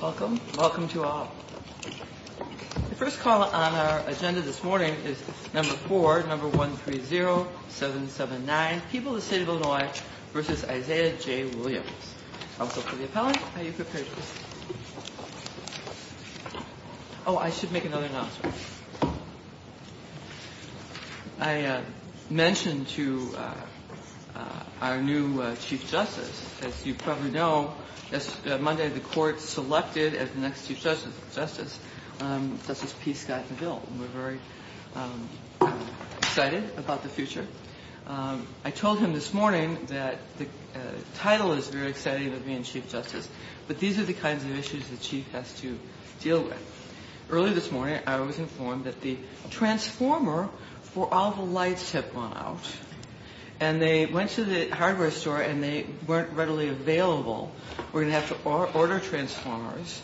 Welcome. Welcome to all. The first call on our agenda this morning is number 4, number 130779, People of the State of Illinois v. Isaiah J. Williams. I'll go for the appellant. Are you prepared? Oh, I should make another announcement. I mentioned to our new Chief Justice, as you probably know, Monday the court selected as the next Chief Justice Justice P. Scott McGill. We're very excited about the future. I told him this morning that the title is very exciting to me and Chief Justice, but these are the kinds of issues the Chief has to deal with. Earlier this morning I was informed that the transformer for all the lights had gone out and they went to the hardware store and they weren't readily available. We're going to have to order transformers.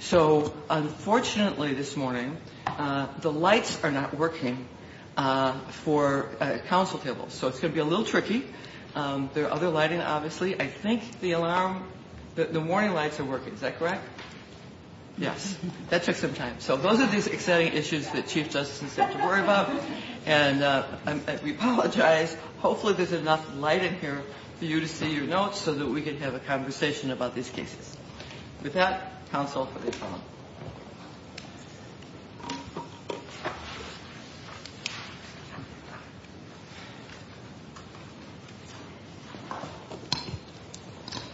So unfortunately this morning the lights are not working for council tables. So it's going to be a little tricky. There are other lighting, obviously. I think the alarm, the warning lights are working. Is that correct? Yes. That took some time. So those are these exciting issues that Chief Justices have to worry about. And we apologize. Hopefully there's enough light in here for you to see your notes so that we can have a conversation about these cases. With that, counsel for the appellant.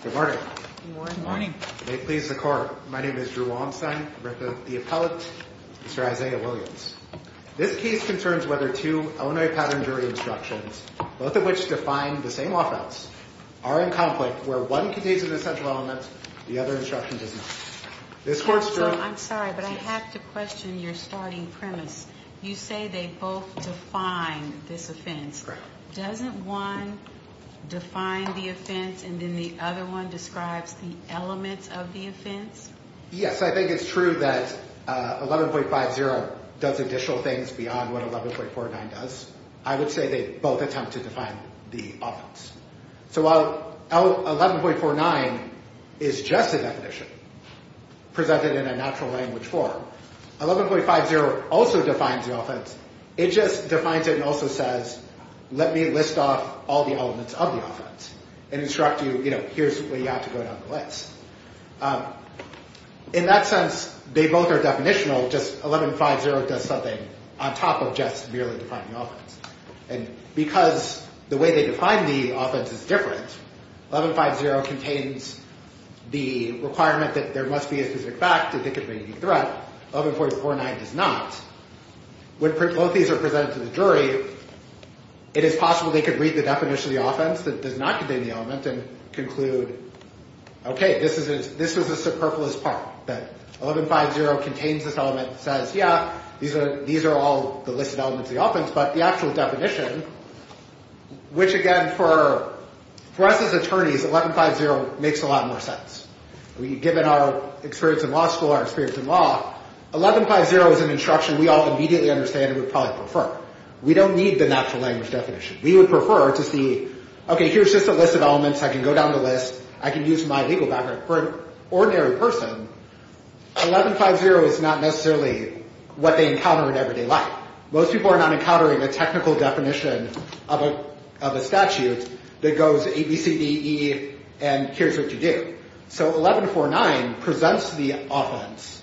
Good morning. Good morning. I'm sorry, but I have to question your starting premise. You say they both define this offense. Doesn't one define the offense and then the other one describes the elements of the offense? Yes, I think it's true that 11.50 does additional things beyond what 11.49 does. I would say they both attempt to define the offense. So while 11.49 is just a definition presented in a natural language form, 11.50 also defines the offense. It just defines it and also says let me list off all the elements of the offense and instruct you, you know, here's where you have to go down the list. In that sense, they both are definitional. Just 11.50 does something on top of just merely defining the offense. And because the way they define the offense is different, 11.50 contains the requirement that there must be a specific fact that they could be a threat. 11.49 does not. When both of these are presented to the jury, it is possible they could read the definition of the offense that does not contain the element and conclude, okay, this is a superfluous part, that 11.50 contains this element that says, yeah, these are all the listed elements of the offense, but the actual definition, which again, for us as attorneys, 11.50 makes a lot more sense. Given our experience in law school, our experience in law, 11.50 is an instruction we all immediately understand and would probably prefer. We don't need the natural language definition. We would prefer to see, okay, here's just a list of elements. I can go down the list. I can use my legal background. For an ordinary person, 11.50 is not necessarily what they encounter in everyday life. Most people are not encountering a technical definition of a statute that goes A, B, C, D, E, and here's what you do. So 11.49 presents the offense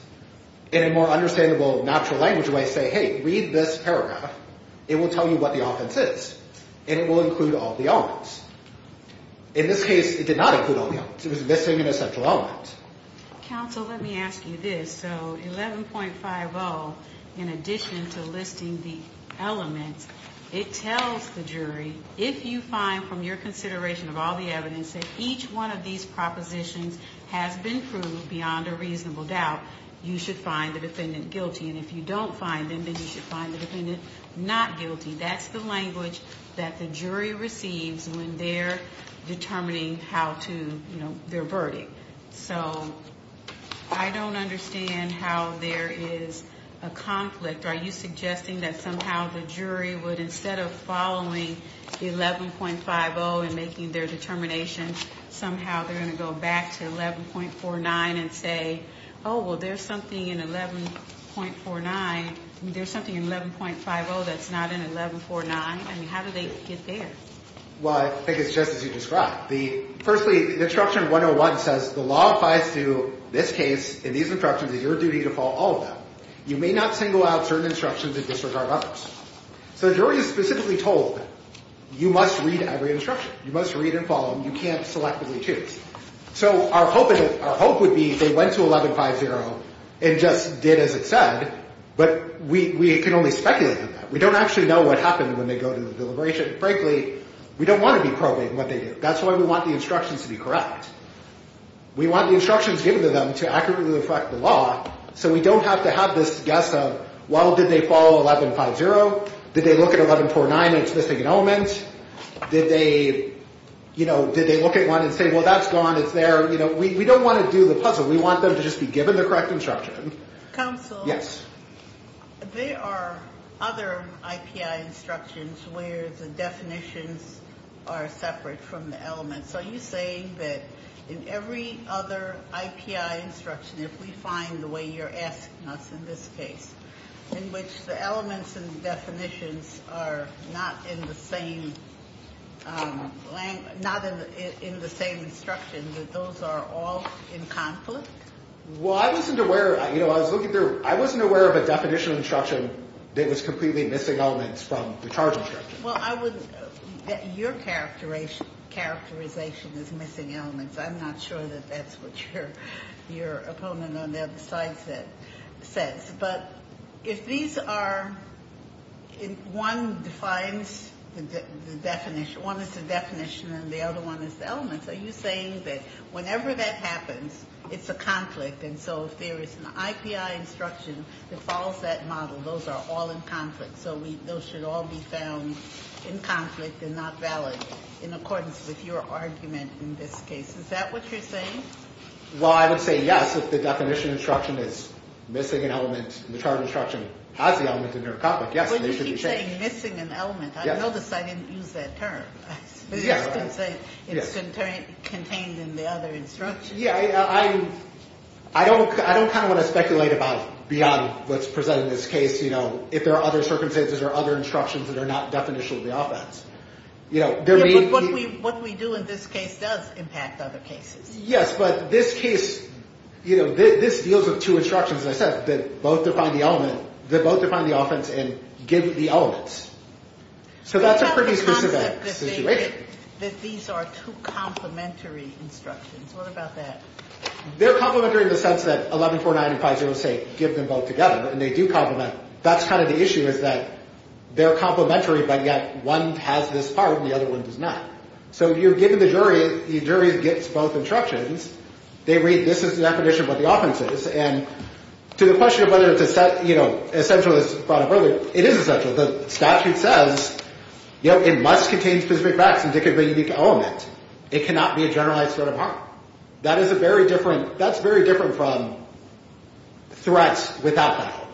in a more understandable natural language where I say, hey, read this paragraph. It will tell you what the offense is, and it will include all the elements. In this case, it did not include all the elements. It was missing an essential element. Counsel, let me ask you this. So 11.50, in addition to listing the elements, it tells the jury, if you find from your consideration of all the evidence that each one of these propositions has been proved beyond a reasonable doubt, you should find the defendant guilty. And if you don't find them, then you should find the defendant not guilty. That's the language that the jury receives when they're determining how to, you know, their verdict. So I don't understand how there is a conflict. Are you suggesting that somehow the jury would, instead of following 11.50 and making their determination, somehow they're going to go back to 11.49 and say, oh, well, there's something in 11.49, there's something in 11.50 that's not in 11.49? I mean, how do they get there? Well, I think it's just as you described. Firstly, the Instruction 101 says the law applies to this case and these instructions. It's your duty to follow all of them. You may not single out certain instructions and disregard others. So the jury is specifically told, you must read every instruction. You must read and follow them. You can't selectively choose. So our hope would be they went to 11.50 and just did as it said, but we can only speculate on that. We don't actually know what happened when they go to the deliberation. Frankly, we don't want to be probing what they do. That's why we want the instructions to be correct. We want the instructions given to them to accurately reflect the law so we don't have to have this guess of, well, did they follow 11.50? Did they look at 11.49 and it's missing an element? Did they look at one and say, well, that's gone, it's there? We don't want to do the puzzle. We want them to just be given the correct instruction. Counsel, there are other IPI instructions where the definitions are separate from the elements. Are you saying that in every other IPI instruction, if we find the way you're asking us in this case, in which the elements and definitions are not in the same language, not in the same instruction, that those are all in conflict? Well, I wasn't aware, you know, I was looking through, I wasn't aware of a definition of instruction that was completely missing elements from the charge instruction. Well, I would, your characterization is missing elements. I'm not sure that that's what your opponent on the other side says. But if these are, if one defines the definition, one is the definition and the other one is the elements, are you saying that whenever that happens, it's a conflict? And so if there is an IPI instruction that follows that model, those are all in conflict. So we, those should all be found in conflict and not valid in accordance with your argument in this case. Is that what you're saying? Well, I would say yes. If the definition instruction is missing an element and the charge instruction has the element in their conflict, yes, they should be changed. You're saying missing an element. I noticed I didn't use that term. You just didn't say it's contained in the other instruction. Yeah, I don't kind of want to speculate about beyond what's presented in this case, you know, if there are other circumstances or other instructions that are not definitional to the offense. What we do in this case does impact other cases. Yes, but this case, you know, this deals with two instructions, as I said, that both define the element, that both define the offense and give the elements. So that's a pretty specific situation. I have a concept that these are two complementary instructions. What about that? They're complementary in the sense that 1149 and 506 give them both together and they do complement. That's kind of the issue is that they're complementary, but yet one has this part and the other one does not. So you're giving the jury, the jury gets both instructions. They read this is the definition of what the offense is. And to the question of whether it's, you know, essential as brought up earlier, it is essential. The statute says, you know, it must contain specific facts indicative of a unique element. It cannot be a generalized threat of harm. That is a very different, that's very different from threats without that element.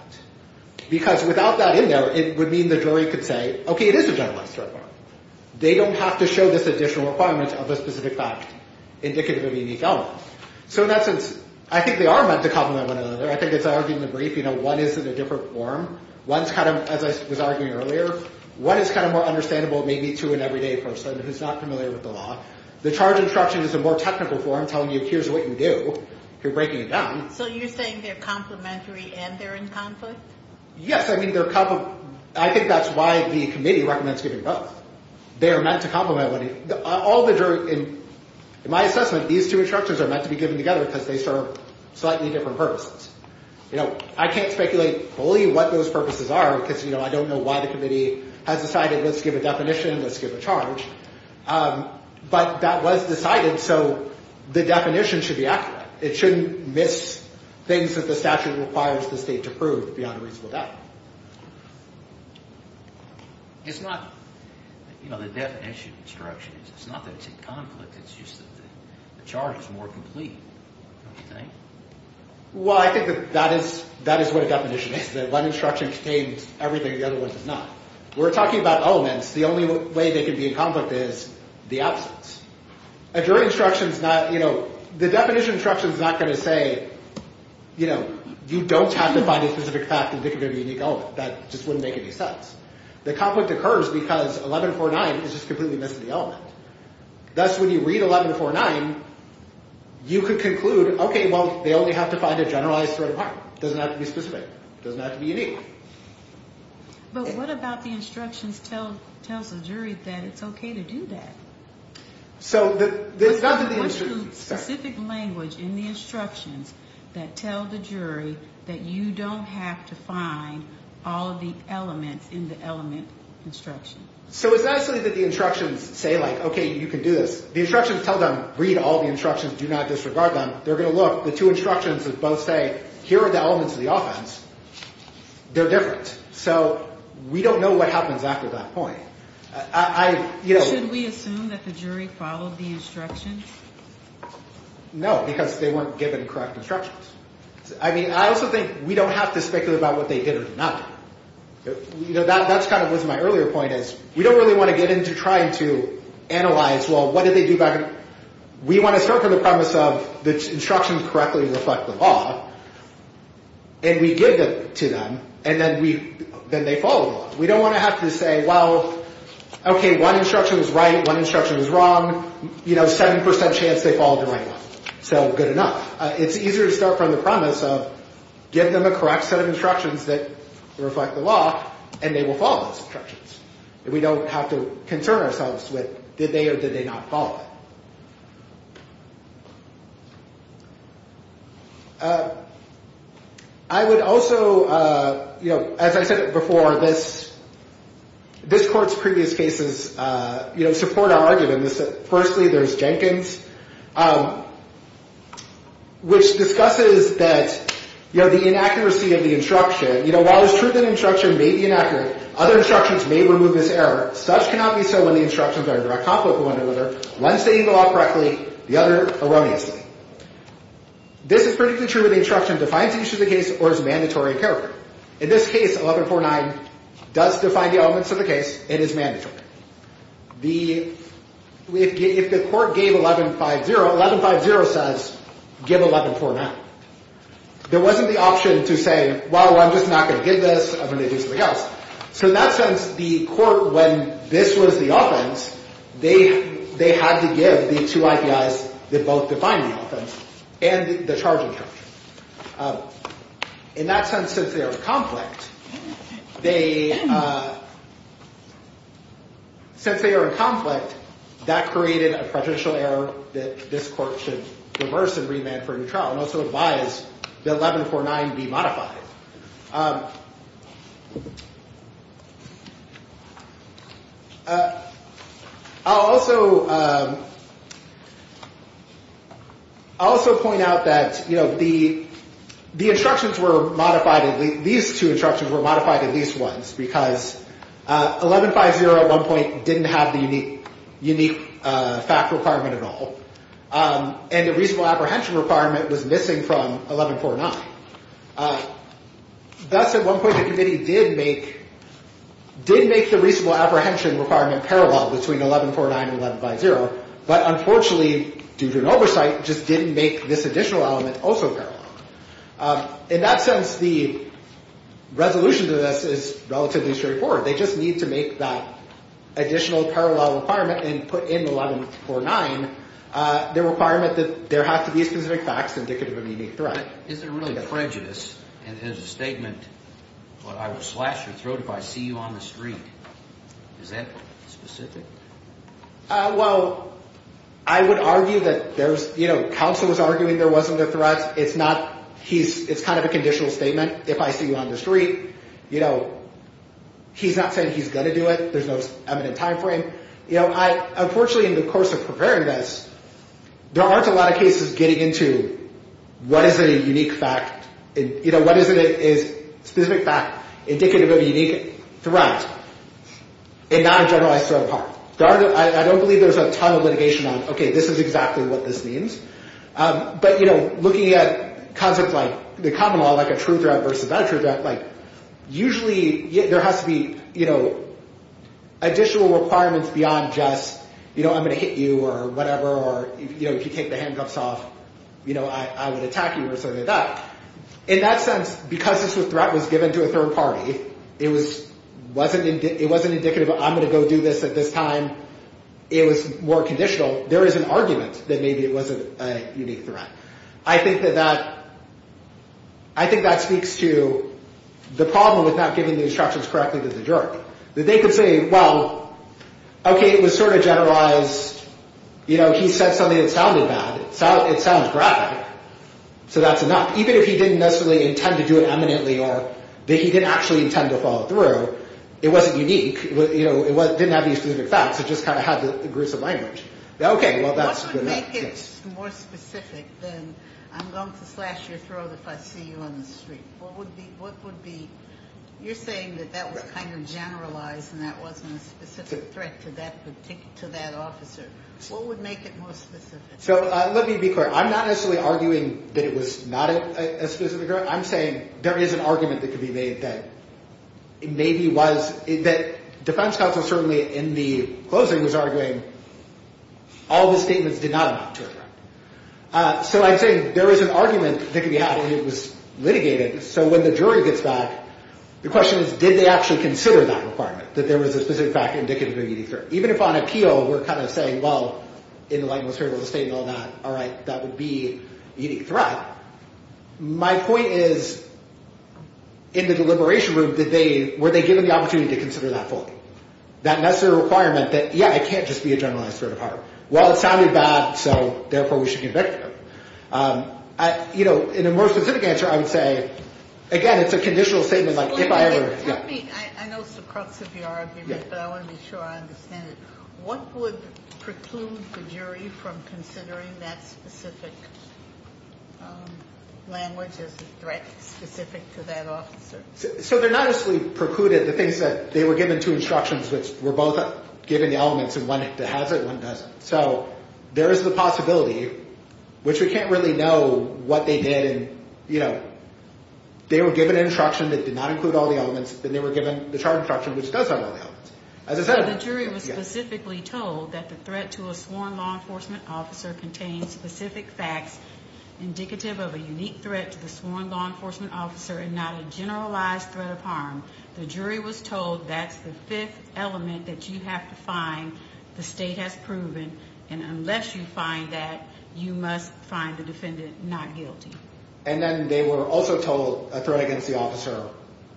Because without that in there, it would mean the jury could say, okay, it is a generalized threat of harm. They don't have to show this additional requirement of a specific fact indicative of a unique element. So in that sense, I think they are meant to complement one another. I think it's argued in the brief, you know, one is in a different form. One's kind of, as I was arguing earlier, one is kind of more understandable maybe to an everyday person who's not familiar with the law. The charge instruction is a more technical form telling you here's what you do. You're breaking it down. So you're saying they're complementary and they're in conflict? Yes, I mean, I think that's why the committee recommends giving both. They are meant to complement one another. In my assessment, these two instructions are meant to be given together because they serve slightly different purposes. You know, I can't speculate fully what those purposes are because, you know, I don't know why the committee has decided let's give a definition, let's give a charge. But that was decided, so the definition should be accurate. It shouldn't miss things that the statute requires the state to prove beyond a reasonable doubt. It's not, you know, the definition instruction. It's not that it's in conflict. It's just that the charge is more complete, don't you think? Well, I think that that is what a definition is. One instruction contains everything the other one does not. We're talking about elements. The only way they can be in conflict is the absence. A jury instruction is not, you know, the definition instruction is not going to say, you know, you don't have to find a specific fact indicative of a unique element. That just wouldn't make any sense. The conflict occurs because 1149 is just completely missing the element. Thus, when you read 1149, you could conclude, okay, well, they only have to find a generalized threat of harm. It doesn't have to be specific. It doesn't have to be unique. But what about the instructions tell us a jury that it's okay to do that? So there's nothing in the instructions. What's the specific language in the instructions that tell the jury that you don't have to find all of the elements in the element instruction? So it's not necessarily that the instructions say, like, okay, you can do this. The instructions tell them, read all the instructions. Do not disregard them. They're going to look. The two instructions that both say, here are the elements of the offense, they're different. So we don't know what happens after that point. I, you know. Should we assume that the jury followed the instructions? No, because they weren't given correct instructions. I mean, I also think we don't have to speculate about what they did or did not do. You know, that's kind of what my earlier point is. We don't really want to get into trying to analyze, well, what did they do better? We want to start from the premise of the instructions correctly reflect the law, and we give it to them, and then they follow the law. We don't want to have to say, well, okay, one instruction is right, one instruction is wrong. You know, 7% chance they followed the right one. So good enough. It's easier to start from the premise of give them a correct set of instructions that reflect the law, and they will follow those instructions. We don't have to concern ourselves with did they or did they not follow it. I would also, you know, as I said before, this court's previous cases, you know, support our argument. Firstly, there's Jenkins, which discusses that, you know, the inaccuracy of the instruction. You know, while it's true that an instruction may be inaccurate, other instructions may remove this error. Such cannot be so when the instructions are in direct conflict with one another, one stating the law correctly, the other erroneously. This is particularly true when the instruction defines the issue of the case or is mandatory in character. In this case, 1149 does define the elements of the case and is mandatory. If the court gave 1150, 1150 says give 1149. There wasn't the option to say, well, I'm just not going to give this. I'm going to do something else. So in that sense, the court, when this was the offense, they had to give the two IPIs that both define the offense and the charging charge. In that sense, since they are in conflict, that created a prejudicial error that this court should reverse and remand for a new trial. And also advise that 1149 be modified. I'll also point out that, you know, the instructions were modified. These two instructions were modified at least once because 1150 at one point didn't have the unique fact requirement at all. And the reasonable apprehension requirement was missing from 1149. Thus, at one point, the committee did make the reasonable apprehension requirement parallel between 1149 and 1150. But unfortunately, due to an oversight, just didn't make this additional element also parallel. In that sense, the resolution to this is relatively straightforward. They just need to make that additional parallel requirement and put in 1149 the requirement that there have to be specific facts indicative of a unique threat. Is there really prejudice? And there's a statement, well, I will slash your throat if I see you on the street. Is that specific? Well, I would argue that there's, you know, counsel was arguing there wasn't a threat. It's not, he's, it's kind of a conditional statement. If I see you on the street, you know, he's not saying he's going to do it. There's no evident time frame. You know, I, unfortunately, in the course of preparing this, there aren't a lot of cases getting into what is a unique fact. You know, what is it is specific fact indicative of a unique threat and not a generalized threat of harm. I don't believe there's a ton of litigation on, okay, this is exactly what this means. But, you know, looking at concepts like the common law, like a true threat versus not a true threat. Like, usually there has to be, you know, additional requirements beyond just, you know, I'm going to hit you or whatever. Or, you know, if you take the handcuffs off, you know, I would attack you or something like that. In that sense, because this threat was given to a third party, it was wasn't it wasn't indicative. I'm going to go do this at this time. It was more conditional. There is an argument that maybe it wasn't a unique threat. I think that that, I think that speaks to the problem with not giving the instructions correctly to the jury. That they could say, well, okay, it was sort of generalized. You know, he said something that sounded bad. It sounds graphic. So that's enough. Even if he didn't necessarily intend to do it eminently or that he didn't actually intend to follow through, it wasn't unique. You know, it didn't have any specific facts. It just kind of had the gruesome language. Okay, well, that's enough. What would make it more specific than I'm going to slash your throat if I see you on the street? What would be, you're saying that that was kind of generalized and that wasn't a specific threat to that officer. What would make it more specific? So let me be clear. I'm not necessarily arguing that it was not a specific threat. I'm saying there is an argument that could be made that maybe was, that defense counsel certainly in the closing was arguing all the statements did not amount to a threat. So I'm saying there is an argument that could be had and it was litigated. So when the jury gets back, the question is, did they actually consider that requirement, that there was a specific fact indicative of a unique threat? Even if on appeal we're kind of saying, well, in the language of the statement and all that, all right, that would be a unique threat. My point is, in the deliberation room, did they, were they given the opportunity to consider that fully? That necessary requirement that, yeah, it can't just be a generalized threat of harm. Well, it sounded bad, so therefore we should convict him. You know, in a more specific answer, I would say, again, it's a conditional statement like if I ever. Tell me, I know it's the crux of your argument, but I want to be sure I understand it. What would preclude the jury from considering that specific language as a threat specific to that officer? So they're not necessarily precluded. The thing is that they were given two instructions which were both given the elements and one has it, one doesn't. So there is the possibility, which we can't really know what they did. And, you know, they were given an instruction that did not include all the elements. Then they were given the charge instruction, which does have all the elements. As I said. So the jury was specifically told that the threat to a sworn law enforcement officer contains specific facts indicative of a unique threat to the sworn law enforcement officer and not a generalized threat of harm. The jury was told that's the fifth element that you have to find. The state has proven. And unless you find that, you must find the defendant not guilty. And then they were also told a threat against the officer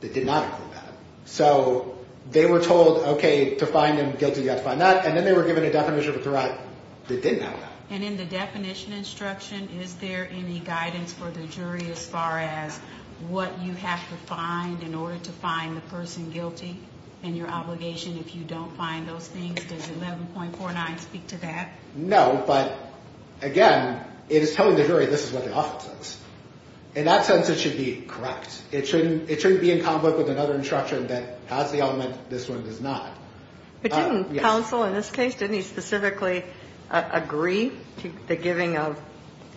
that did not include that. So they were told, okay, to find him guilty, you have to find that. And then they were given a definition of a threat that did not include that. And in the definition instruction, is there any guidance for the jury as far as what you have to find in order to find the person guilty and your obligation if you don't find those things? Does 11.49 speak to that? No. But, again, it is telling the jury this is what the offense is. In that sense, it should be correct. It shouldn't be in conflict with another instruction that has the element, this one does not. But didn't counsel in this case, didn't he specifically agree to the giving of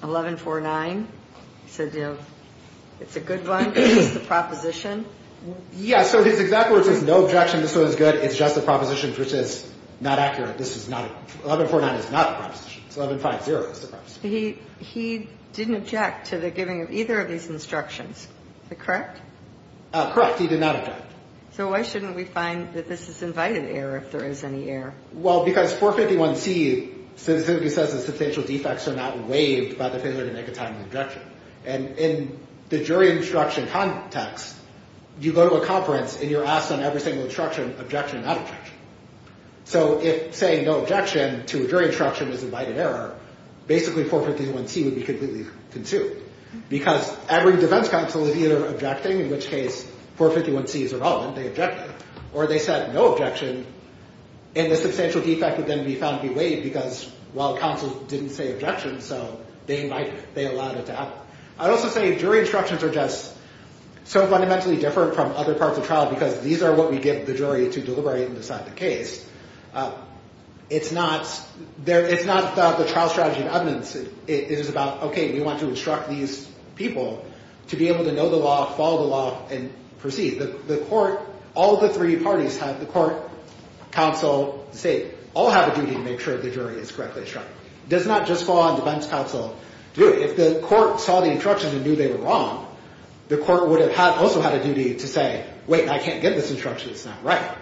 11.49? He said, you know, it's a good one. It's just a proposition. Yeah. So his exact words is no objection. This one is good. It's just a proposition, which is not accurate. This is not 11.49. It's not a proposition. It's 11.50. It's a proposition. He didn't object to the giving of either of these instructions. Is that correct? Correct. He did not object. So why shouldn't we find that this is invited error if there is any error? Well, because 451C specifically says that substantial defects are not waived by the failure to make a timely objection. And in the jury instruction context, you go to a conference and you're asked on every single instruction, objection, not objection. So if saying no objection to a jury instruction is invited error, basically 451C would be completely consumed. Because every defense counsel is either objecting, in which case 451C is irrelevant. They objected. Or they said no objection, and the substantial defect would then be found to be waived because, well, counsel didn't say objection. So they allowed it to happen. I'd also say jury instructions are just so fundamentally different from other parts of trial because these are what we give the jury to deliberate and decide the case. It's not about the trial strategy and evidence. It is about, OK, we want to instruct these people to be able to know the law, follow the law, and proceed. The court, all the three parties have, the court, counsel, state, all have a duty to make sure the jury is correctly instructed. It does not just fall on defense counsel to do it. If the court saw the instruction and knew they were wrong, the court would have also had a duty to say, wait, I can't get this instruction. It's not right.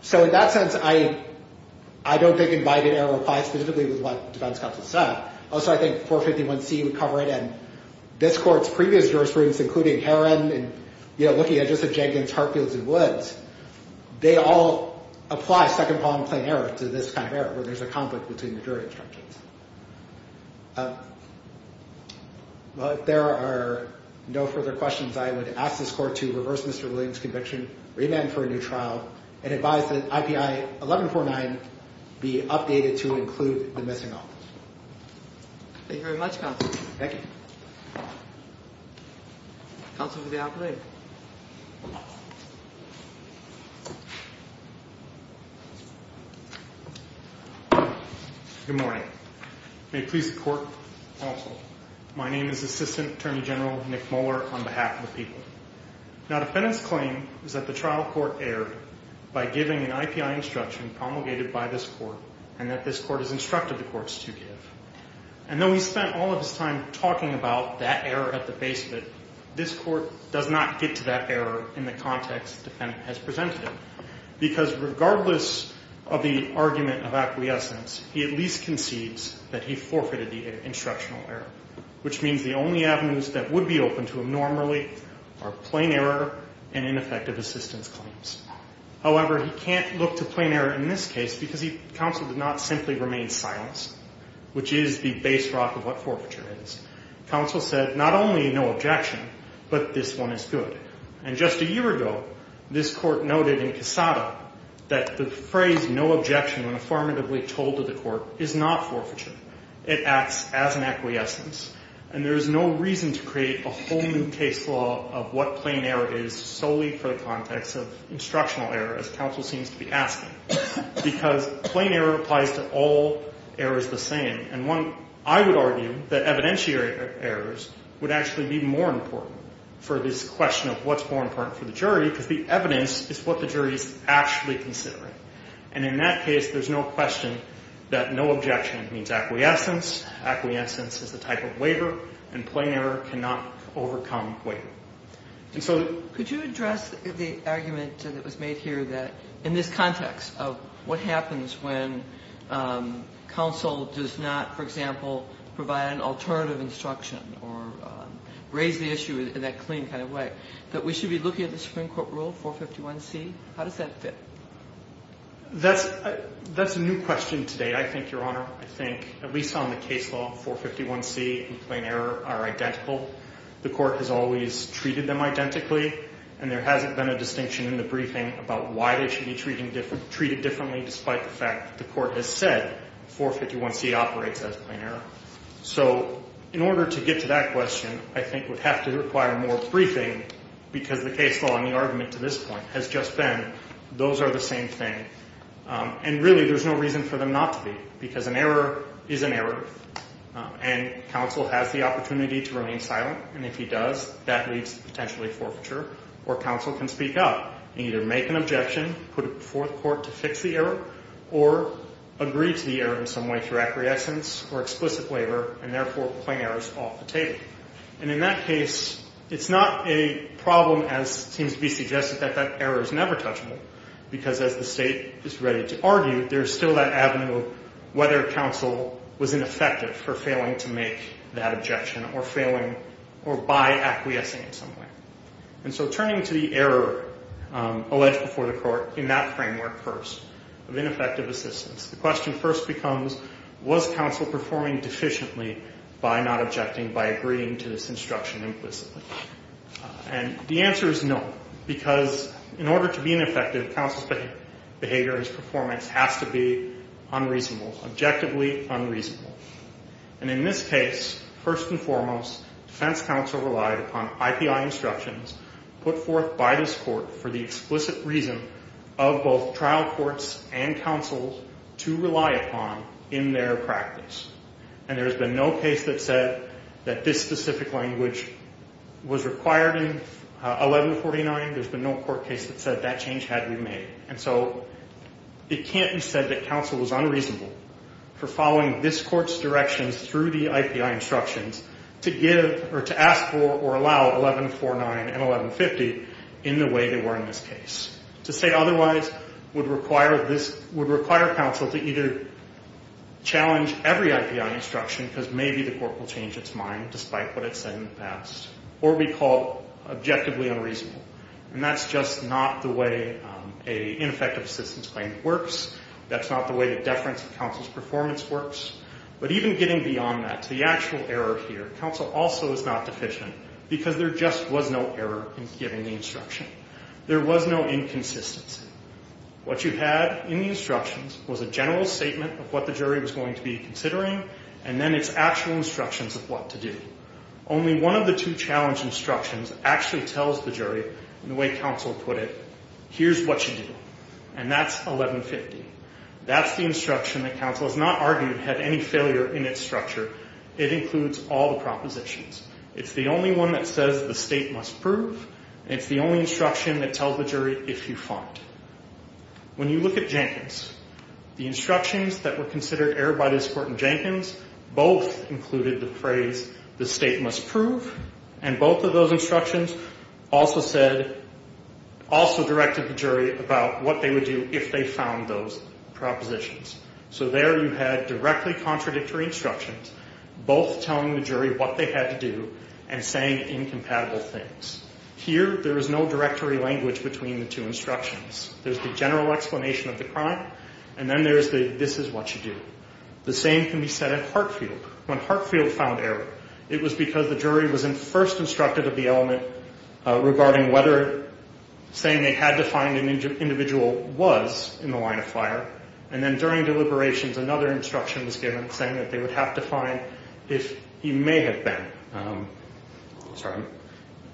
So in that sense, I don't think invited error applies specifically with what defense counsel said. Also, I think 451C would cover it. And this court's previous jurisprudence, including Heron and, you know, looking at just the Jenkins, Hartfields, and Woods, they all apply second-pollen claim error to this kind of error where there's a conflict between the jury instructions. Well, if there are no further questions, I would ask this court to reverse Mr. Williams' conviction, remand for a new trial, and advise that IPI 1149 be updated to include the missing office. Thank you very much, counsel. Thank you. Counsel to the operator. Good morning. May it please the court, counsel. My name is Assistant Attorney General Nick Moeller on behalf of the people. Now, defendant's claim is that the trial court erred by giving an IPI instruction promulgated by this court and that this court has instructed the courts to give. And though he spent all of his time talking about that error at the base of it, this court does not get to that error in the context the defendant has presented it. Because regardless of the argument of acquiescence, he at least concedes that he forfeited the instructional error, which means the only avenues that would be open to him normally are plain error and ineffective assistance claims. However, he can't look to plain error in this case because counsel did not simply remain silent, which is the base rock of what forfeiture is. Counsel said not only no objection, but this one is good. And just a year ago, this court noted in Cassata that the phrase no objection when affirmatively told to the court is not forfeiture. It acts as an acquiescence. And there is no reason to create a whole new case law of what plain error is solely for the context of instructional error, as counsel seems to be asking, because plain error applies to all errors the same. And I would argue that evidentiary errors would actually be more important for this question of what's more important for the jury, because the evidence is what the jury is actually considering. And in that case, there's no question that no objection means acquiescence. Acquiescence is a type of waiver, and plain error cannot overcome waiver. And so could you address the argument that was made here that in this context of what happens when counsel does not, for example, provide an alternative instruction or raise the issue in that clean kind of way, that we should be looking at the Supreme Court rule, 451C? How does that fit? That's a new question today, I think, Your Honor. I think at least on the case law, 451C and plain error are identical. The court has always treated them identically, and there hasn't been a distinction in the briefing about why they should be treated differently, despite the fact that the court has said 451C operates as plain error. So in order to get to that question, I think we'd have to require more briefing, because the case law and the argument to this point has just been those are the same thing. And really, there's no reason for them not to be, because an error is an error, and counsel has the opportunity to remain silent, and if he does, that leads to potentially forfeiture, or counsel can speak up and either make an objection, put it before the court to fix the error, or agree to the error in some way through acquiescence or explicit waiver, and therefore plain error is off the table. And in that case, it's not a problem, as seems to be suggested, that that error is never touchable, because as the state is ready to argue, there's still that avenue of whether counsel was ineffective for failing to make that objection or by acquiescing in some way. And so turning to the error alleged before the court in that framework first of ineffective assistance, the question first becomes, was counsel performing deficiently by not objecting, by agreeing to this instruction implicitly? And the answer is no, because in order to be ineffective, counsel's behavior or his performance has to be unreasonable, objectively unreasonable. And in this case, first and foremost, defense counsel relied upon IPI instructions put forth by this court for the explicit reason of both trial courts and counsel to rely upon in their practice. And there has been no case that said that this specific language was required in 1149. There's been no court case that said that change had to be made. And so it can't be said that counsel was unreasonable for following this court's directions through the IPI instructions to give or to ask for or allow 1149 and 1150 in the way they were in this case. To say otherwise would require counsel to either challenge every IPI instruction because maybe the court will change its mind despite what it said in the past, or be called objectively unreasonable. And that's just not the way an ineffective assistance claim works. That's not the way the deference of counsel's performance works. But even getting beyond that to the actual error here, counsel also is not deficient because there just was no error in giving the instruction. There was no inconsistency. What you had in the instructions was a general statement of what the jury was going to be considering and then its actual instructions of what to do. Only one of the two challenge instructions actually tells the jury, in the way counsel put it, here's what you do. And that's 1150. That's the instruction that counsel has not argued had any failure in its structure. It includes all the propositions. It's the only one that says the state must prove. It's the only instruction that tells the jury if you find. When you look at Jenkins, the instructions that were considered error by this court in Jenkins, both included the phrase the state must prove. And both of those instructions also said, also directed the jury about what they would do if they found those propositions. So there you had directly contradictory instructions, both telling the jury what they had to do and saying incompatible things. Here, there is no directory language between the two instructions. There's the general explanation of the crime, and then there's the this is what you do. The same can be said of Hartfield. When Hartfield found error, it was because the jury was first instructed of the element regarding whether saying they had to find an individual was in the line of fire, and then during deliberations, another instruction was given saying that they would have to find if he may have been in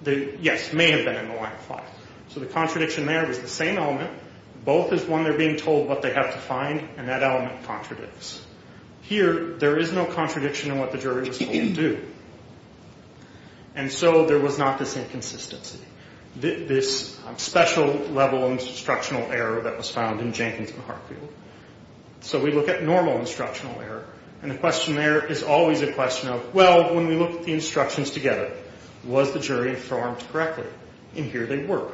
the line of fire. So the contradiction there was the same element. Both is one they're being told what they have to find, and that element contradicts. Here, there is no contradiction in what the jury was told to do. And so there was not this inconsistency, this special level of instructional error that was found in Jenkins and Hartfield. So we look at normal instructional error, and the question there is always a question of, well, when we look at the instructions together, was the jury informed correctly? And here they were.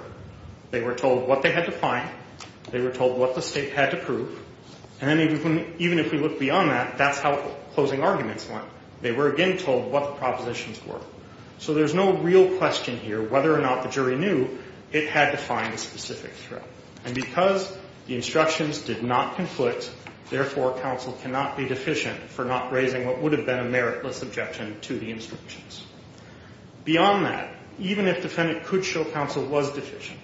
They were told what they had to find. They were told what the state had to prove. And even if we look beyond that, that's how closing arguments went. They were again told what the propositions were. So there's no real question here whether or not the jury knew it had to find a specific threat. And because the instructions did not conflict, therefore counsel cannot be deficient for not raising what would have been a meritless objection to the instructions. Beyond that, even if the defendant could show counsel was deficient,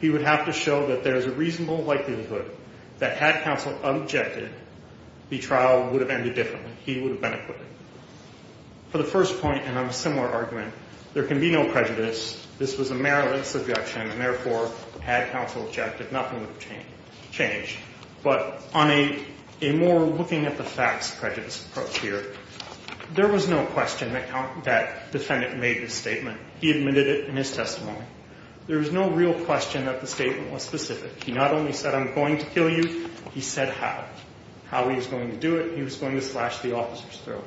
he would have to show that there is a reasonable likelihood that had counsel objected, the trial would have ended differently. He would have been acquitted. For the first point, and on a similar argument, there can be no prejudice. This was a meritless objection, and therefore had counsel objected, nothing would have changed. But on a more looking-at-the-facts prejudice approach here, there was no question that the defendant made this statement. He admitted it in his testimony. There was no real question that the statement was specific. He not only said, I'm going to kill you, he said how. How he was going to do it, he was going to slash the officer's throat.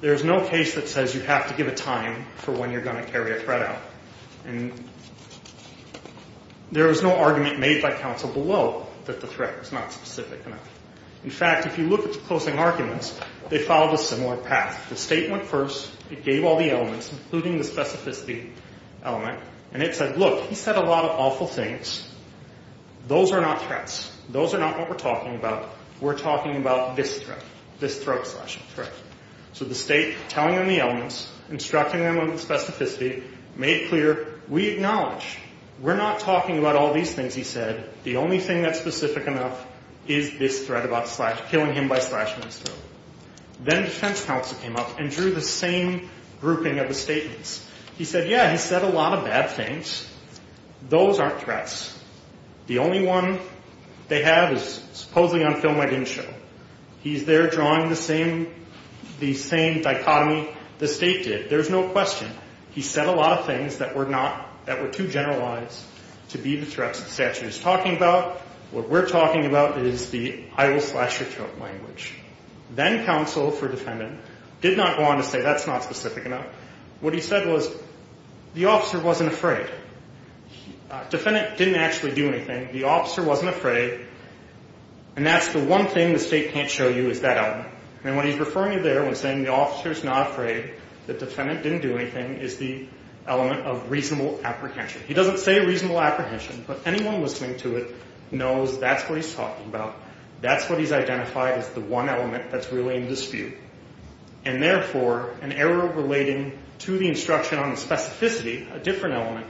There is no case that says you have to give a time for when you're going to carry a threat out. And there was no argument made by counsel below that the threat was not specific enough. In fact, if you look at the closing arguments, they followed a similar path. The statement first, it gave all the elements, including the specificity element, and it said, look, he said a lot of awful things. Those are not threats. Those are not what we're talking about. We're talking about this threat, this throat-slashing threat. So the State, telling him the elements, instructing him on the specificity, made it clear, we acknowledge. We're not talking about all these things, he said. The only thing that's specific enough is this threat about killing him by slashing his throat. Then defense counsel came up and drew the same grouping of the statements. He said, yeah, he said a lot of bad things. Those aren't threats. The only one they have is supposedly on film I didn't show. He's there drawing the same dichotomy the State did. There's no question. He said a lot of things that were too generalized to be the threats the statute is talking about. What we're talking about is the I will slash your throat language. Then counsel for defendant did not go on to say that's not specific enough. What he said was the officer wasn't afraid. Defendant didn't actually do anything. The officer wasn't afraid. And that's the one thing the State can't show you is that element. And what he's referring to there when saying the officer's not afraid, the defendant didn't do anything, is the element of reasonable apprehension. He doesn't say reasonable apprehension, but anyone listening to it knows that's what he's talking about. That's what he's identified as the one element that's really in dispute. And, therefore, an error relating to the instruction on the specificity, a different element,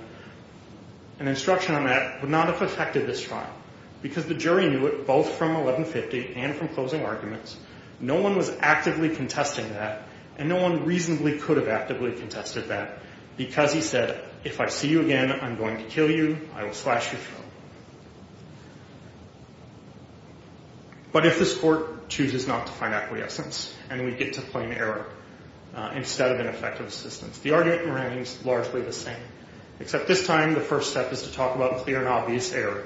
an instruction on that would not have affected this trial. Because the jury knew it both from 1150 and from closing arguments. No one was actively contesting that. And no one reasonably could have actively contested that because he said if I see you again, I'm going to kill you. I will slash your throat. But if this court chooses not to find acquiescence and we get to claim error instead of ineffective assistance, the argument remains largely the same. Except this time the first step is to talk about clear and obvious error.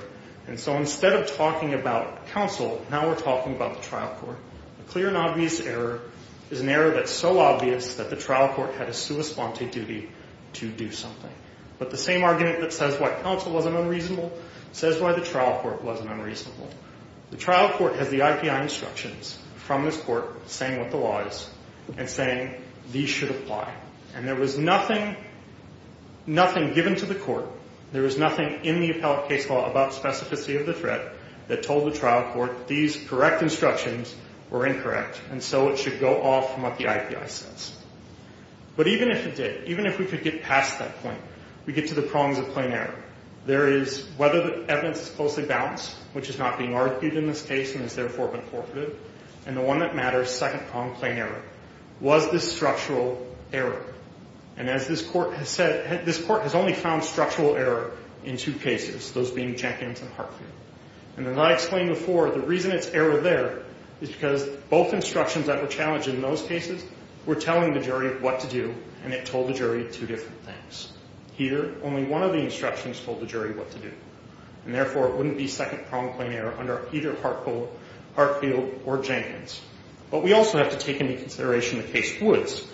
And so instead of talking about counsel, now we're talking about the trial court. The clear and obvious error is an error that's so obvious that the trial court had a sua sponte duty to do something. But the same argument that says what counsel wasn't unreasonable says why the trial court wasn't unreasonable. The trial court has the IPI instructions from this court saying what the law is and saying these should apply. And there was nothing given to the court, there was nothing in the appellate case law about specificity of the threat that told the trial court these correct instructions were incorrect. And so it should go off from what the IPI says. But even if it did, even if we could get past that point, we get to the prongs of plain error. There is whether the evidence is closely balanced, which is not being argued in this case and has therefore been forfeited. And the one that matters, second prong, plain error. Was this structural error? And as this court has said, this court has only found structural error in two cases, those being Jenkins and Hartfield. And as I explained before, the reason it's error there is because both instructions that were challenged in those cases were telling the jury what to do and it told the jury two different things. Here, only one of the instructions told the jury what to do. And therefore, it wouldn't be second prong, plain error under either Hartfield or Jenkins. But we also have to take into consideration the case Woods.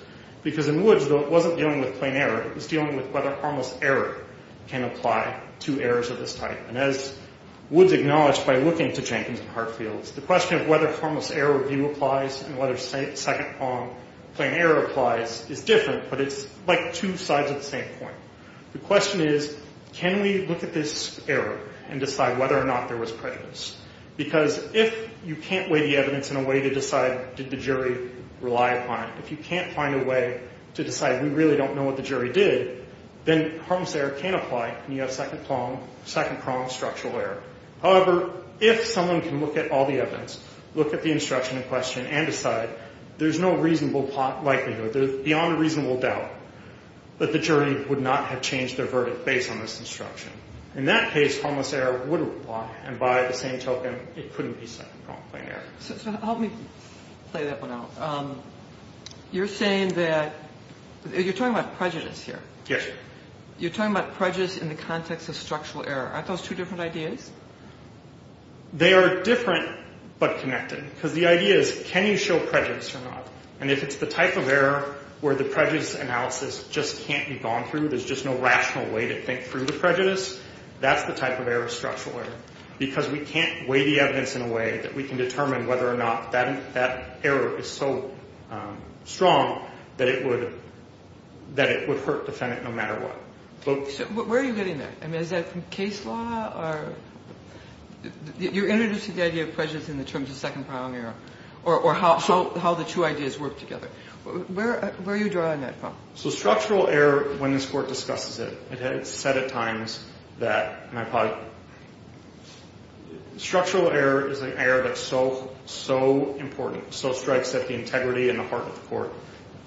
Because in Woods, though it wasn't dealing with plain error, it was dealing with whether harmless error can apply to errors of this type. And as Woods acknowledged by looking to Jenkins and Hartfield, the question of whether harmless error review applies and whether second prong, plain error applies is different. But it's like two sides of the same coin. The question is, can we look at this error and decide whether or not there was prejudice? Because if you can't weigh the evidence in a way to decide did the jury rely upon it, if you can't find a way to decide we really don't know what the jury did, then harmless error can apply and you have second prong, structural error. However, if someone can look at all the evidence, look at the instruction in question and decide, there's no reasonable likelihood, beyond a reasonable doubt, that the jury would not have changed their verdict based on this instruction. In that case, harmless error would apply. And by the same token, it couldn't be second prong, plain error. So help me play that one out. You're saying that, you're talking about prejudice here. Yes. You're talking about prejudice in the context of structural error. Aren't those two different ideas? They are different but connected. Because the idea is, can you show prejudice or not? And if it's the type of error where the prejudice analysis just can't be gone through, there's just no rational way to think through the prejudice, that's the type of error, structural error. Because we can't weigh the evidence in a way that we can determine whether or not that error is so strong that it would hurt the defendant no matter what. So where are you getting there? I mean, is that from case law? You're introducing the idea of prejudice in the terms of second prong error or how the two ideas work together. Where are you drawing that from? So structural error, when this Court discusses it, it has said at times that structural error is an error that's so important, so strikes at the integrity and the heart of the Court,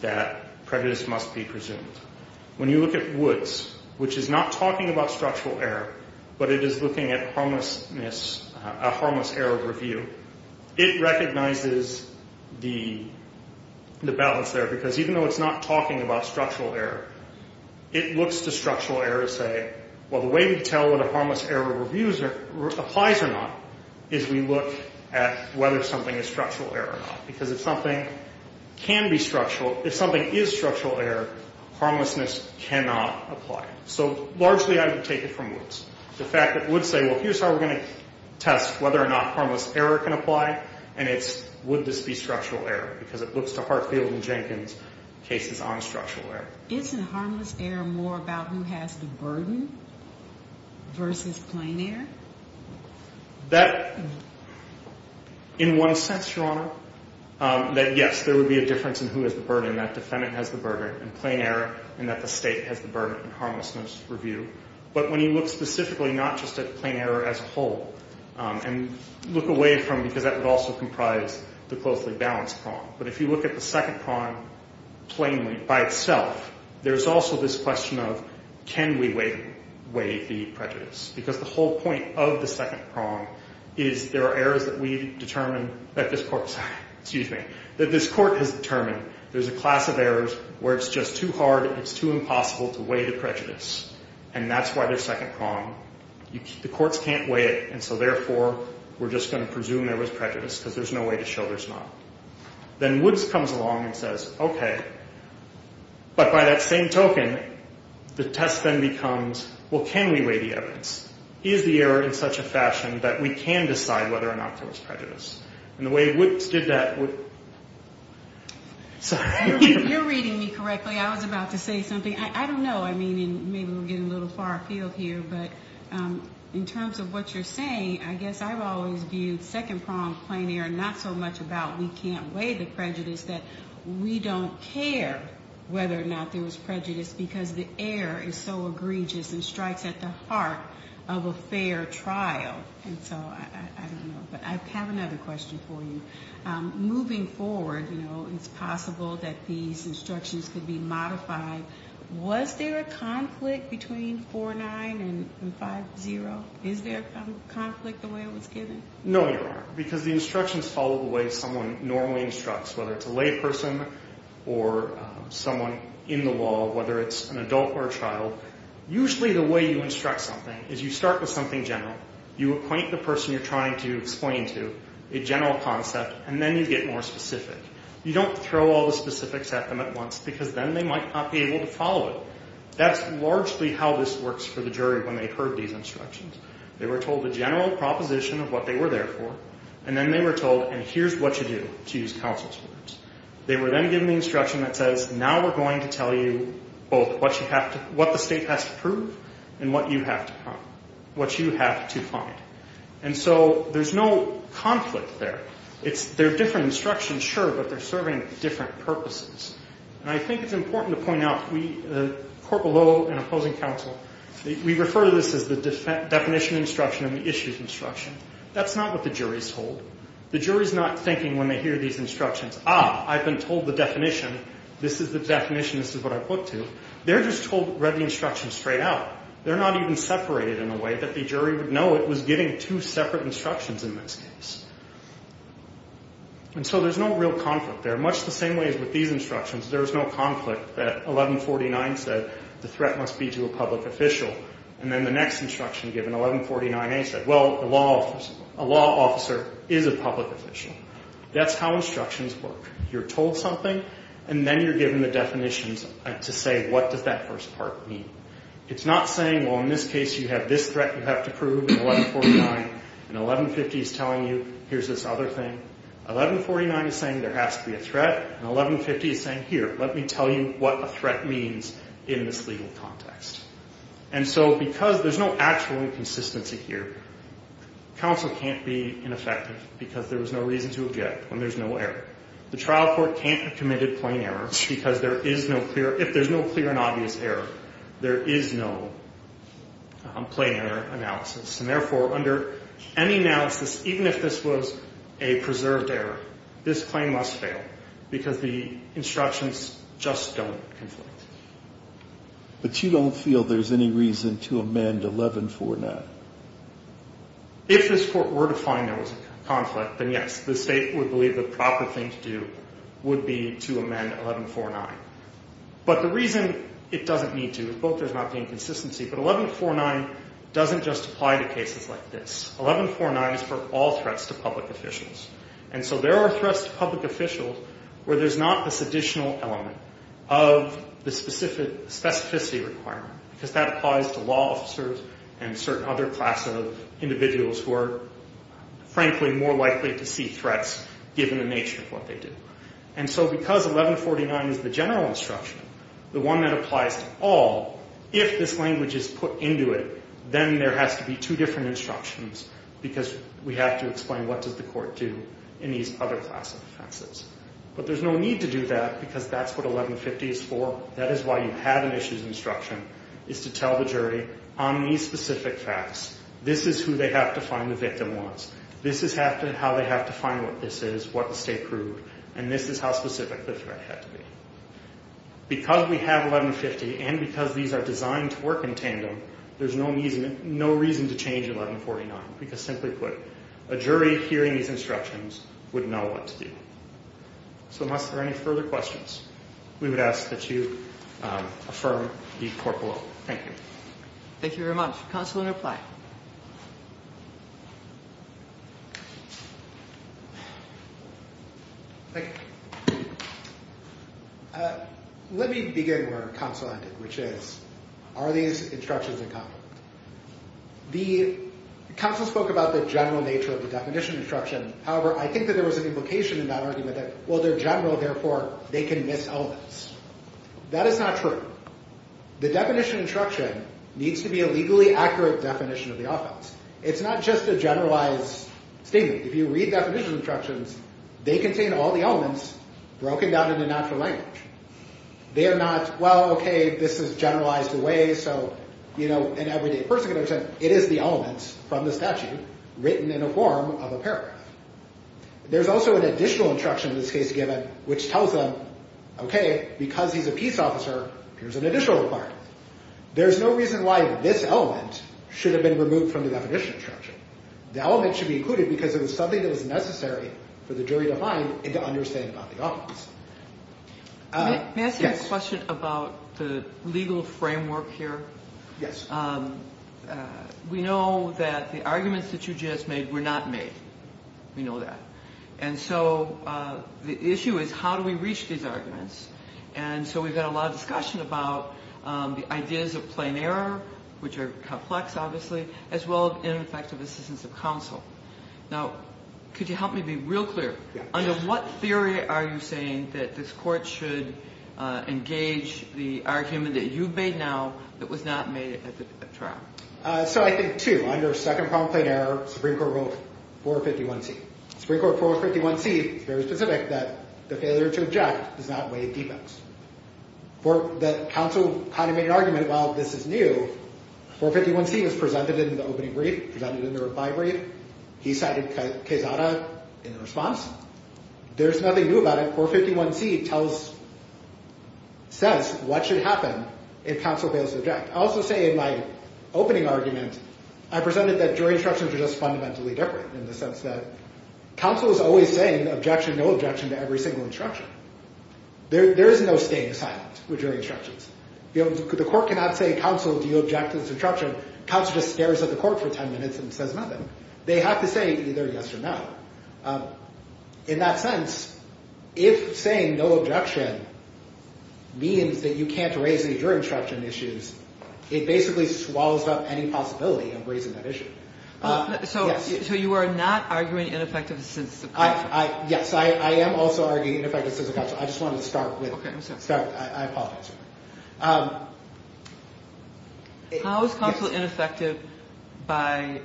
that prejudice must be presumed. When you look at Woods, which is not talking about structural error, but it is looking at a harmless error review, it recognizes the balance there. Because even though it's not talking about structural error, it looks to structural error to say, well, the way we tell whether a harmless error review applies or not is we look at whether something is structural error or not. Because if something can be structural, if something is structural error, harmlessness cannot apply. So largely I would take it from Woods. The fact that Woods say, well, here's how we're going to test whether or not harmless error can apply, and it's would this be structural error, because it looks to Hartfield and Jenkins cases on structural error. Isn't harmless error more about who has the burden versus plain error? That, in one sense, Your Honor, that, yes, there would be a difference in who has the burden, that defendant has the burden in plain error and that the State has the burden in harmlessness review. But when you look specifically not just at plain error as a whole, and look away from because that would also comprise the closely balanced prong, but if you look at the second prong plainly by itself, there's also this question of can we weigh the prejudice? Because the whole point of the second prong is there are errors that we determine that this court has determined. There's a class of errors where it's just too hard and it's too impossible to weigh the prejudice, and that's why there's second prong. The courts can't weigh it, and so therefore we're just going to presume there was prejudice because there's no way to show there's not. Then Woods comes along and says, okay, but by that same token, the test then becomes, well, can we weigh the evidence? Is the error in such a fashion that we can decide whether or not there was prejudice? And the way Woods did that was sorry. You're reading me correctly. I was about to say something. I don't know. I mean, maybe we're getting a little far afield here, but in terms of what you're saying, I guess I've always viewed second prong plain error not so much about we can't weigh the prejudice, that we don't care whether or not there was prejudice because the error is so egregious and strikes at the heart of a fair trial. And so I don't know, but I have another question for you. Moving forward, you know, it's possible that these instructions could be modified. Was there a conflict between 4-9 and 5-0? Is there a conflict the way it was given? No, Your Honor, because the instructions follow the way someone normally instructs, whether it's a layperson or someone in the law, whether it's an adult or a child. Usually the way you instruct something is you start with something general, you appoint the person you're trying to explain to a general concept, and then you get more specific. You don't throw all the specifics at them at once because then they might not be able to follow it. That's largely how this works for the jury when they heard these instructions. They were told the general proposition of what they were there for, and then they were told, and here's what you do to use counsel's words. They were then given the instruction that says, now we're going to tell you both what the state has to prove and what you have to find. And so there's no conflict there. They're different instructions, sure, but they're serving different purposes. And I think it's important to point out, the court below and opposing counsel, we refer to this as the definition instruction and the issues instruction. That's not what the jury is told. The jury is not thinking when they hear these instructions, ah, I've been told the definition. This is the definition. This is what I put to. They're just read the instructions straight out. They're not even separated in a way that the jury would know it was giving two separate instructions in this case. And so there's no real conflict there, much the same way as with these instructions. There is no conflict that 1149 said the threat must be to a public official, and then the next instruction given, 1149A, said, well, a law officer is a public official. That's how instructions work. You're told something, and then you're given the definitions to say what does that first part mean. It's not saying, well, in this case you have this threat you have to prove in 1149, and 1150 is telling you here's this other thing. 1149 is saying there has to be a threat, and 1150 is saying, here, let me tell you what a threat means in this legal context. And so because there's no actual inconsistency here, counsel can't be ineffective because there was no reason to object when there's no error. The trial court can't have committed plain error because there is no clear – if there's no clear and obvious error, there is no plain error analysis. And therefore, under any analysis, even if this was a preserved error, this claim must fail because the instructions just don't conflict. But you don't feel there's any reason to amend 1149? If this court were to find there was a conflict, then yes, the state would believe the proper thing to do would be to amend 1149. But the reason it doesn't need to is both there's not the inconsistency, but 1149 doesn't just apply to cases like this. 1149 is for all threats to public officials. And so there are threats to public officials where there's not this additional element of the specificity requirement because that applies to law officers and certain other class of individuals who are, frankly, more likely to see threats given the nature of what they do. And so because 1149 is the general instruction, the one that applies to all, if this language is put into it, then there has to be two different instructions because we have to explain what does the court do in these other class of offenses. But there's no need to do that because that's what 1150 is for. That is why you have an issues instruction is to tell the jury on these specific facts, this is who they have to find the victim was, this is how they have to find what this is, what the state proved, and this is how specific the threat had to be. Because we have 1150 and because these are designed to work in tandem, there's no reason to change 1149 because, simply put, a jury hearing these instructions would know what to do. So unless there are any further questions, we would ask that you affirm the court rule. Thank you. Thank you very much. Counsel in reply. Thank you. Let me begin where counsel ended, which is are these instructions in conflict? The counsel spoke about the general nature of the definition instruction. However, I think that there was an implication in that argument that, well, they're general, therefore, they can miss elements. That is not true. The definition instruction needs to be a legally accurate definition of the offense. It's not just a generalized statement. If you read definition instructions, they contain all the elements broken down into natural language. They are not, well, okay, this is generalized away so, you know, it is the elements from the statute written in a form of a paragraph. There's also an additional instruction in this case given which tells them, okay, because he's a peace officer, here's an additional requirement. There's no reason why this element should have been removed from the definition instruction. The element should be included because it was something that was necessary for the jury to find and to understand about the offense. May I ask you a question about the legal framework here? Yes. We know that the arguments that you just made were not made. We know that. And so the issue is how do we reach these arguments? And so we've had a lot of discussion about the ideas of plain error, which are complex, obviously, as well as ineffective assistance of counsel. Now, could you help me be real clear? Under what theory are you saying that this court should engage the argument that you've made now that was not made at the trial? So I think two. Under Second Problem, Plain Error, Supreme Court Rule 451C. Supreme Court Rule 451C is very specific that the failure to object does not waive defense. The counsel kind of made an argument, well, this is new. 451C is presented in the opening brief, presented in the reply brief. He cited Quezada in the response. There's nothing new about it. Rule 451C says what should happen if counsel fails to object. I also say in my opening argument, I presented that jury instructions are just fundamentally different in the sense that counsel is always saying objection, no objection to every single instruction. There is no staying silent with jury instructions. The court cannot say, counsel, do you object to this instruction? Counsel just stares at the court for 10 minutes and says nothing. They have to say either yes or no. In that sense, if saying no objection means that you can't raise any jury instruction issues, it basically swallows up any possibility of raising that issue. So you are not arguing ineffective assistance of counsel? Yes, I am also arguing ineffective assistance of counsel. I just wanted to start with that. I apologize. How is counsel ineffective by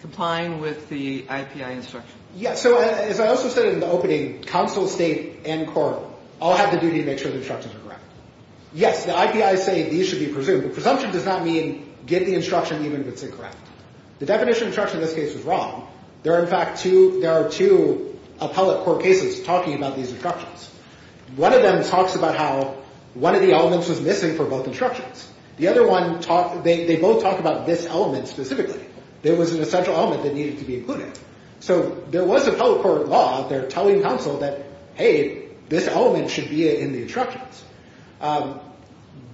complying with the IPI instructions? Yes, so as I also said in the opening, counsel, state, and court all have the duty to make sure the instructions are correct. Yes, the IPIs say these should be presumed, but presumption does not mean get the instruction even if it's incorrect. The definition of instruction in this case is wrong. There are, in fact, two appellate court cases talking about these instructions. One of them talks about how one of the elements was missing for both instructions. The other one, they both talk about this element specifically. There was an essential element that needed to be included. So there was appellate court law out there telling counsel that, hey, this element should be in the instructions.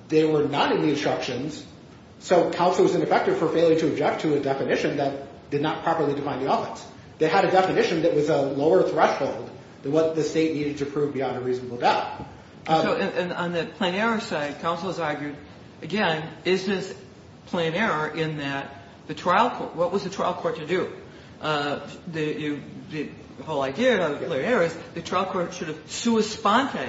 They were not in the instructions, so counsel was ineffective for failing to object to a definition that did not properly define the elements. They had a definition that was a lower threshold than what the state needed to prove beyond a reasonable doubt. So on the plain error side, counsel has argued, again, is this plain error in that the trial court, what was the trial court to do? The whole idea of plain error is the trial court should have sua sponte,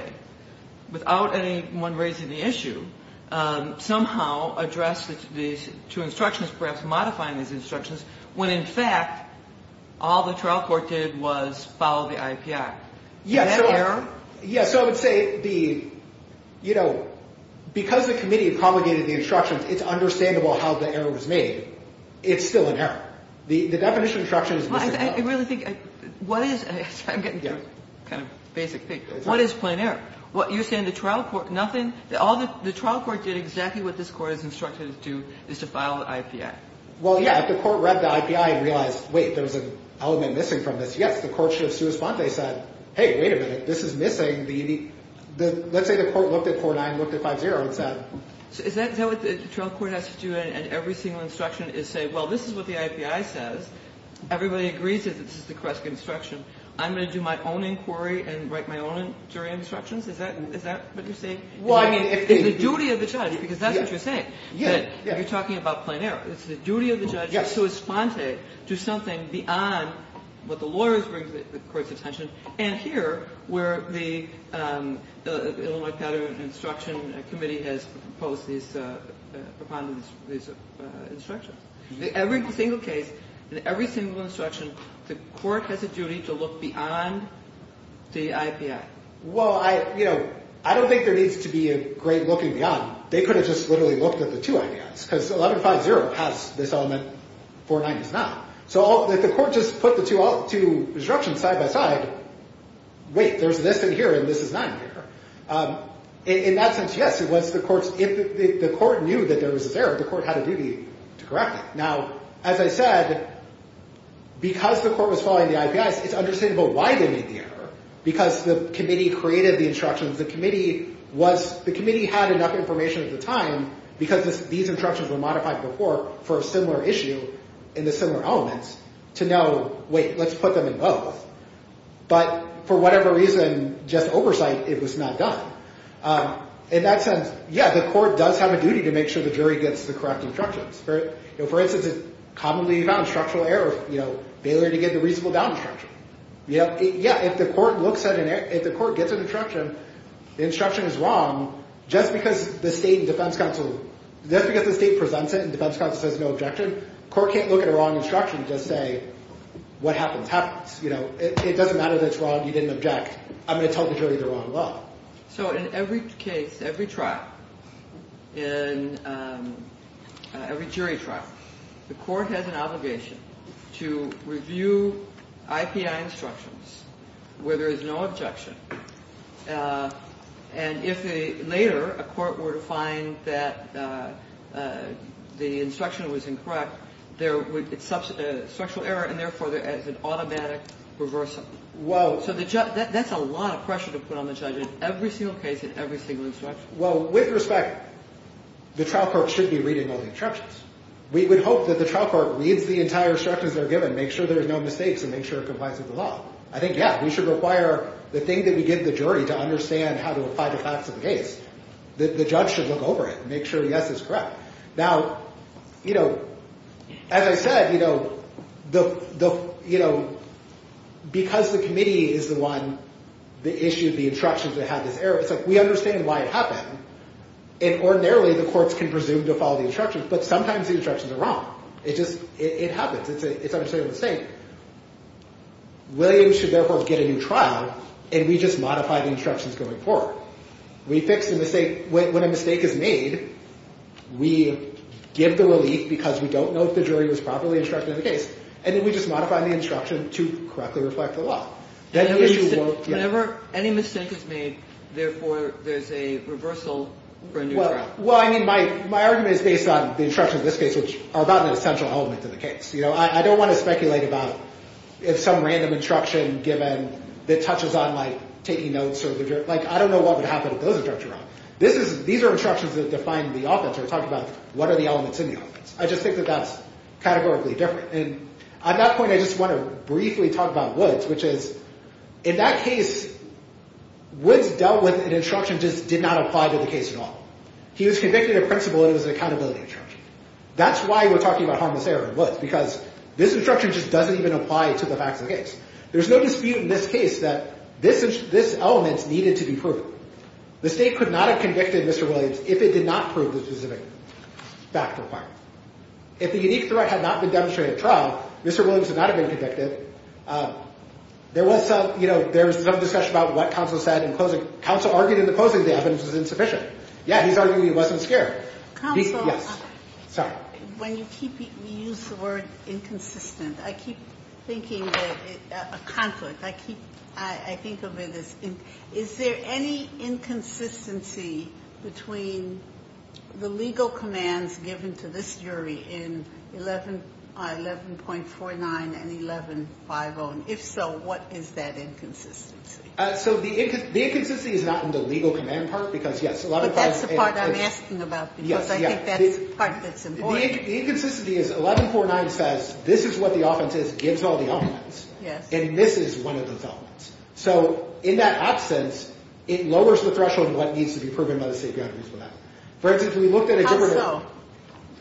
without anyone raising the issue, somehow addressed these two instructions, perhaps modifying these instructions, when, in fact, all the trial court did was follow the IAPI. Is that error? Yes. So I would say the, you know, because the committee promulgated the instructions, it's understandable how the error was made. It's still an error. The definition of instruction is missing. I really think, what is, I'm getting kind of basic. What is plain error? You're saying the trial court, nothing, the trial court did exactly what this court is instructed to do, is to file the IAPI. Well, yeah, if the court read the IAPI and realized, wait, there's an element missing from this, yes, the court should have sua sponte, said, hey, wait a minute, this is missing the, let's say the court looked at 49, looked at 50 and said. Is that what the trial court has to do and every single instruction is say, well, this is what the IAPI says. Everybody agrees that this is the correct instruction. I'm going to do my own inquiry and write my own jury instructions? Is that what you're saying? Well, I mean, if the. The duty of the judge, because that's what you're saying. Yeah, yeah. You're talking about plain error. It's the duty of the judge to sua sponte to something beyond what the lawyers bring to the court's attention. And here, where the Illinois pattern instruction committee has proposed these, propounded these instructions. Every single case, in every single instruction, the court has a duty to look beyond the IAPI. Well, I, you know, I don't think there needs to be a great looking beyond. They could have just literally looked at the two IAPIs because 11.50 has this element, 49 does not. So the court just put the two instructions side by side. Wait, there's this in here and this is not in here. In that sense, yes, it was the court's. If the court knew that there was this error, the court had a duty to correct it. Now, as I said, because the court was following the IAPIs, it's understandable why they made the error. Because the committee created the instructions. The committee was, the committee had enough information at the time because these instructions were modified before for a similar issue in the similar elements to know, wait, let's put them in both. But for whatever reason, just oversight, it was not done. In that sense, yeah, the court does have a duty to make sure the jury gets the correct instructions. For instance, it's commonly found structural error, you know, failure to get the reasonable doubt instruction. Yeah, if the court looks at it, if the court gets an instruction, the instruction is wrong, just because the state defense counsel, just because the state presents it and defense counsel says no objection, the court can't look at a wrong instruction and just say, what happens? It doesn't matter that it's wrong, you didn't object, I'm going to tell the jury they're wrong as well. So in every case, every trial, in every jury trial, the court has an obligation to review IAPI instructions where there is no objection. And if later a court were to find that the instruction was incorrect, there would be structural error, and therefore there is an automatic reversal. So that's a lot of pressure to put on the judge in every single case and every single instruction. Well, with respect, the trial court should be reading all the instructions. We would hope that the trial court reads the entire instructions that are given, make sure there are no mistakes, and make sure it complies with the law. I think, yeah, we should require the thing that we give the jury to understand how to apply the facts of the case. The judge should look over it and make sure yes is correct. Now, as I said, because the committee is the one that issued the instructions that had this error, it's like we understand why it happened, and ordinarily the courts can presume to follow the instructions, but sometimes the instructions are wrong. It just happens. It's an understated mistake. Williams should therefore get a new trial, and we just modify the instructions going forward. We fix the mistake. When a mistake is made, we give the relief because we don't know if the jury was properly instructed in the case, and then we just modify the instruction to correctly reflect the law. Then the issue won't get— Whenever any mistake is made, therefore there's a reversal for a new trial. Well, I mean, my argument is based on the instructions in this case, which are about an essential element to the case. I don't want to speculate about some random instruction that touches on taking notes. I don't know what would happen if those instructions were wrong. These are instructions that define the offense. We're talking about what are the elements in the offense. I just think that that's categorically different, and at that point I just want to briefly talk about Woods, which is in that case, Woods dealt with an instruction that just did not apply to the case at all. He was convicted in principle, and it was an accountability instruction. That's why we're talking about harmless error in Woods, because this instruction just doesn't even apply to the facts of the case. There's no dispute in this case that this element needed to be proven. The state could not have convicted Mr. Williams if it did not prove the specific fact requirement. If the unique threat had not been demonstrated at trial, Mr. Williams would not have been convicted. There was some discussion about what counsel said in closing. Counsel argued in the closing that the evidence was insufficient. Yeah, he's arguing he wasn't scared. Counsel. Yes, sorry. When you use the word inconsistent, I keep thinking that a conflict. I think of it as is there any inconsistency between the legal commands given to this jury in 11.49 and 11.50? And if so, what is that inconsistency? So the inconsistency is not in the legal command part, because, yes, a lot of times. That's the part I'm asking about, because I think that's part that's important. The inconsistency is 11.49 says this is what the offense is, gives all the elements. Yes. And this is one of those elements. So in that absence, it lowers the threshold of what needs to be proven by the state guarantees for that. For instance, we looked at a different.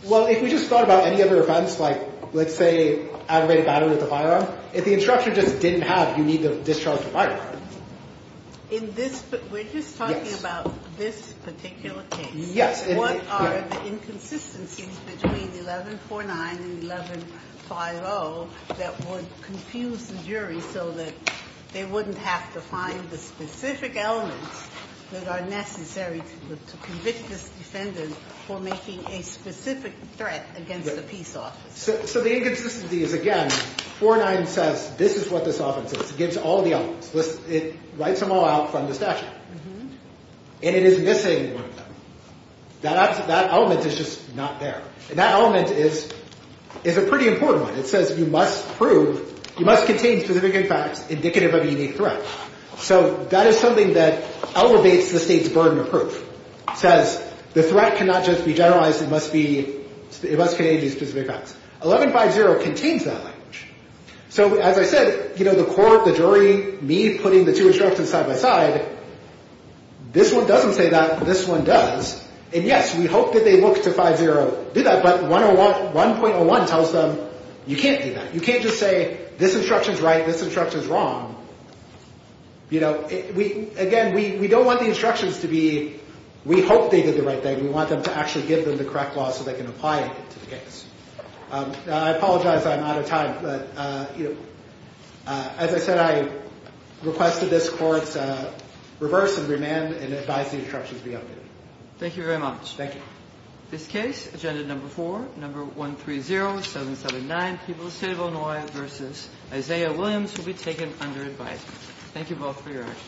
Well, if we just thought about any other offense, like let's say aggravated battery at the firearm, if the instruction just didn't have you need to discharge the firearm. In this, we're just talking about this particular case. Yes. What are the inconsistencies between 11.49 and 11.50 that would confuse the jury so that they wouldn't have to find the specific elements that are necessary to convict this defendant for making a specific threat against the peace officer? So the inconsistency is, again, 4.9 says this is what this offense is. It gives all the elements. It writes them all out from the statute. And it is missing one of them. That element is just not there. And that element is a pretty important one. It says you must contain specific facts indicative of a unique threat. So that is something that elevates the state's burden of proof. It says the threat cannot just be generalized. It must contain these specific facts. 11.50 contains that language. So as I said, you know, the court, the jury, me putting the two instructions side by side, this one doesn't say that. This one does. And, yes, we hope that they look to 5.0 to do that. But 1.01 tells them you can't do that. You can't just say this instruction is right, this instruction is wrong. You know, again, we don't want the instructions to be we hope they did the right thing. We want them to actually give them the correct law so they can apply it to the case. I apologize I'm out of time. But, you know, as I said, I request that this court reverse and remand and advise the instructions be updated. Thank you very much. Thank you. This case, agenda number four, number 130779, People's State of Illinois v. Isaiah Williams will be taken under advice. Thank you both for your action.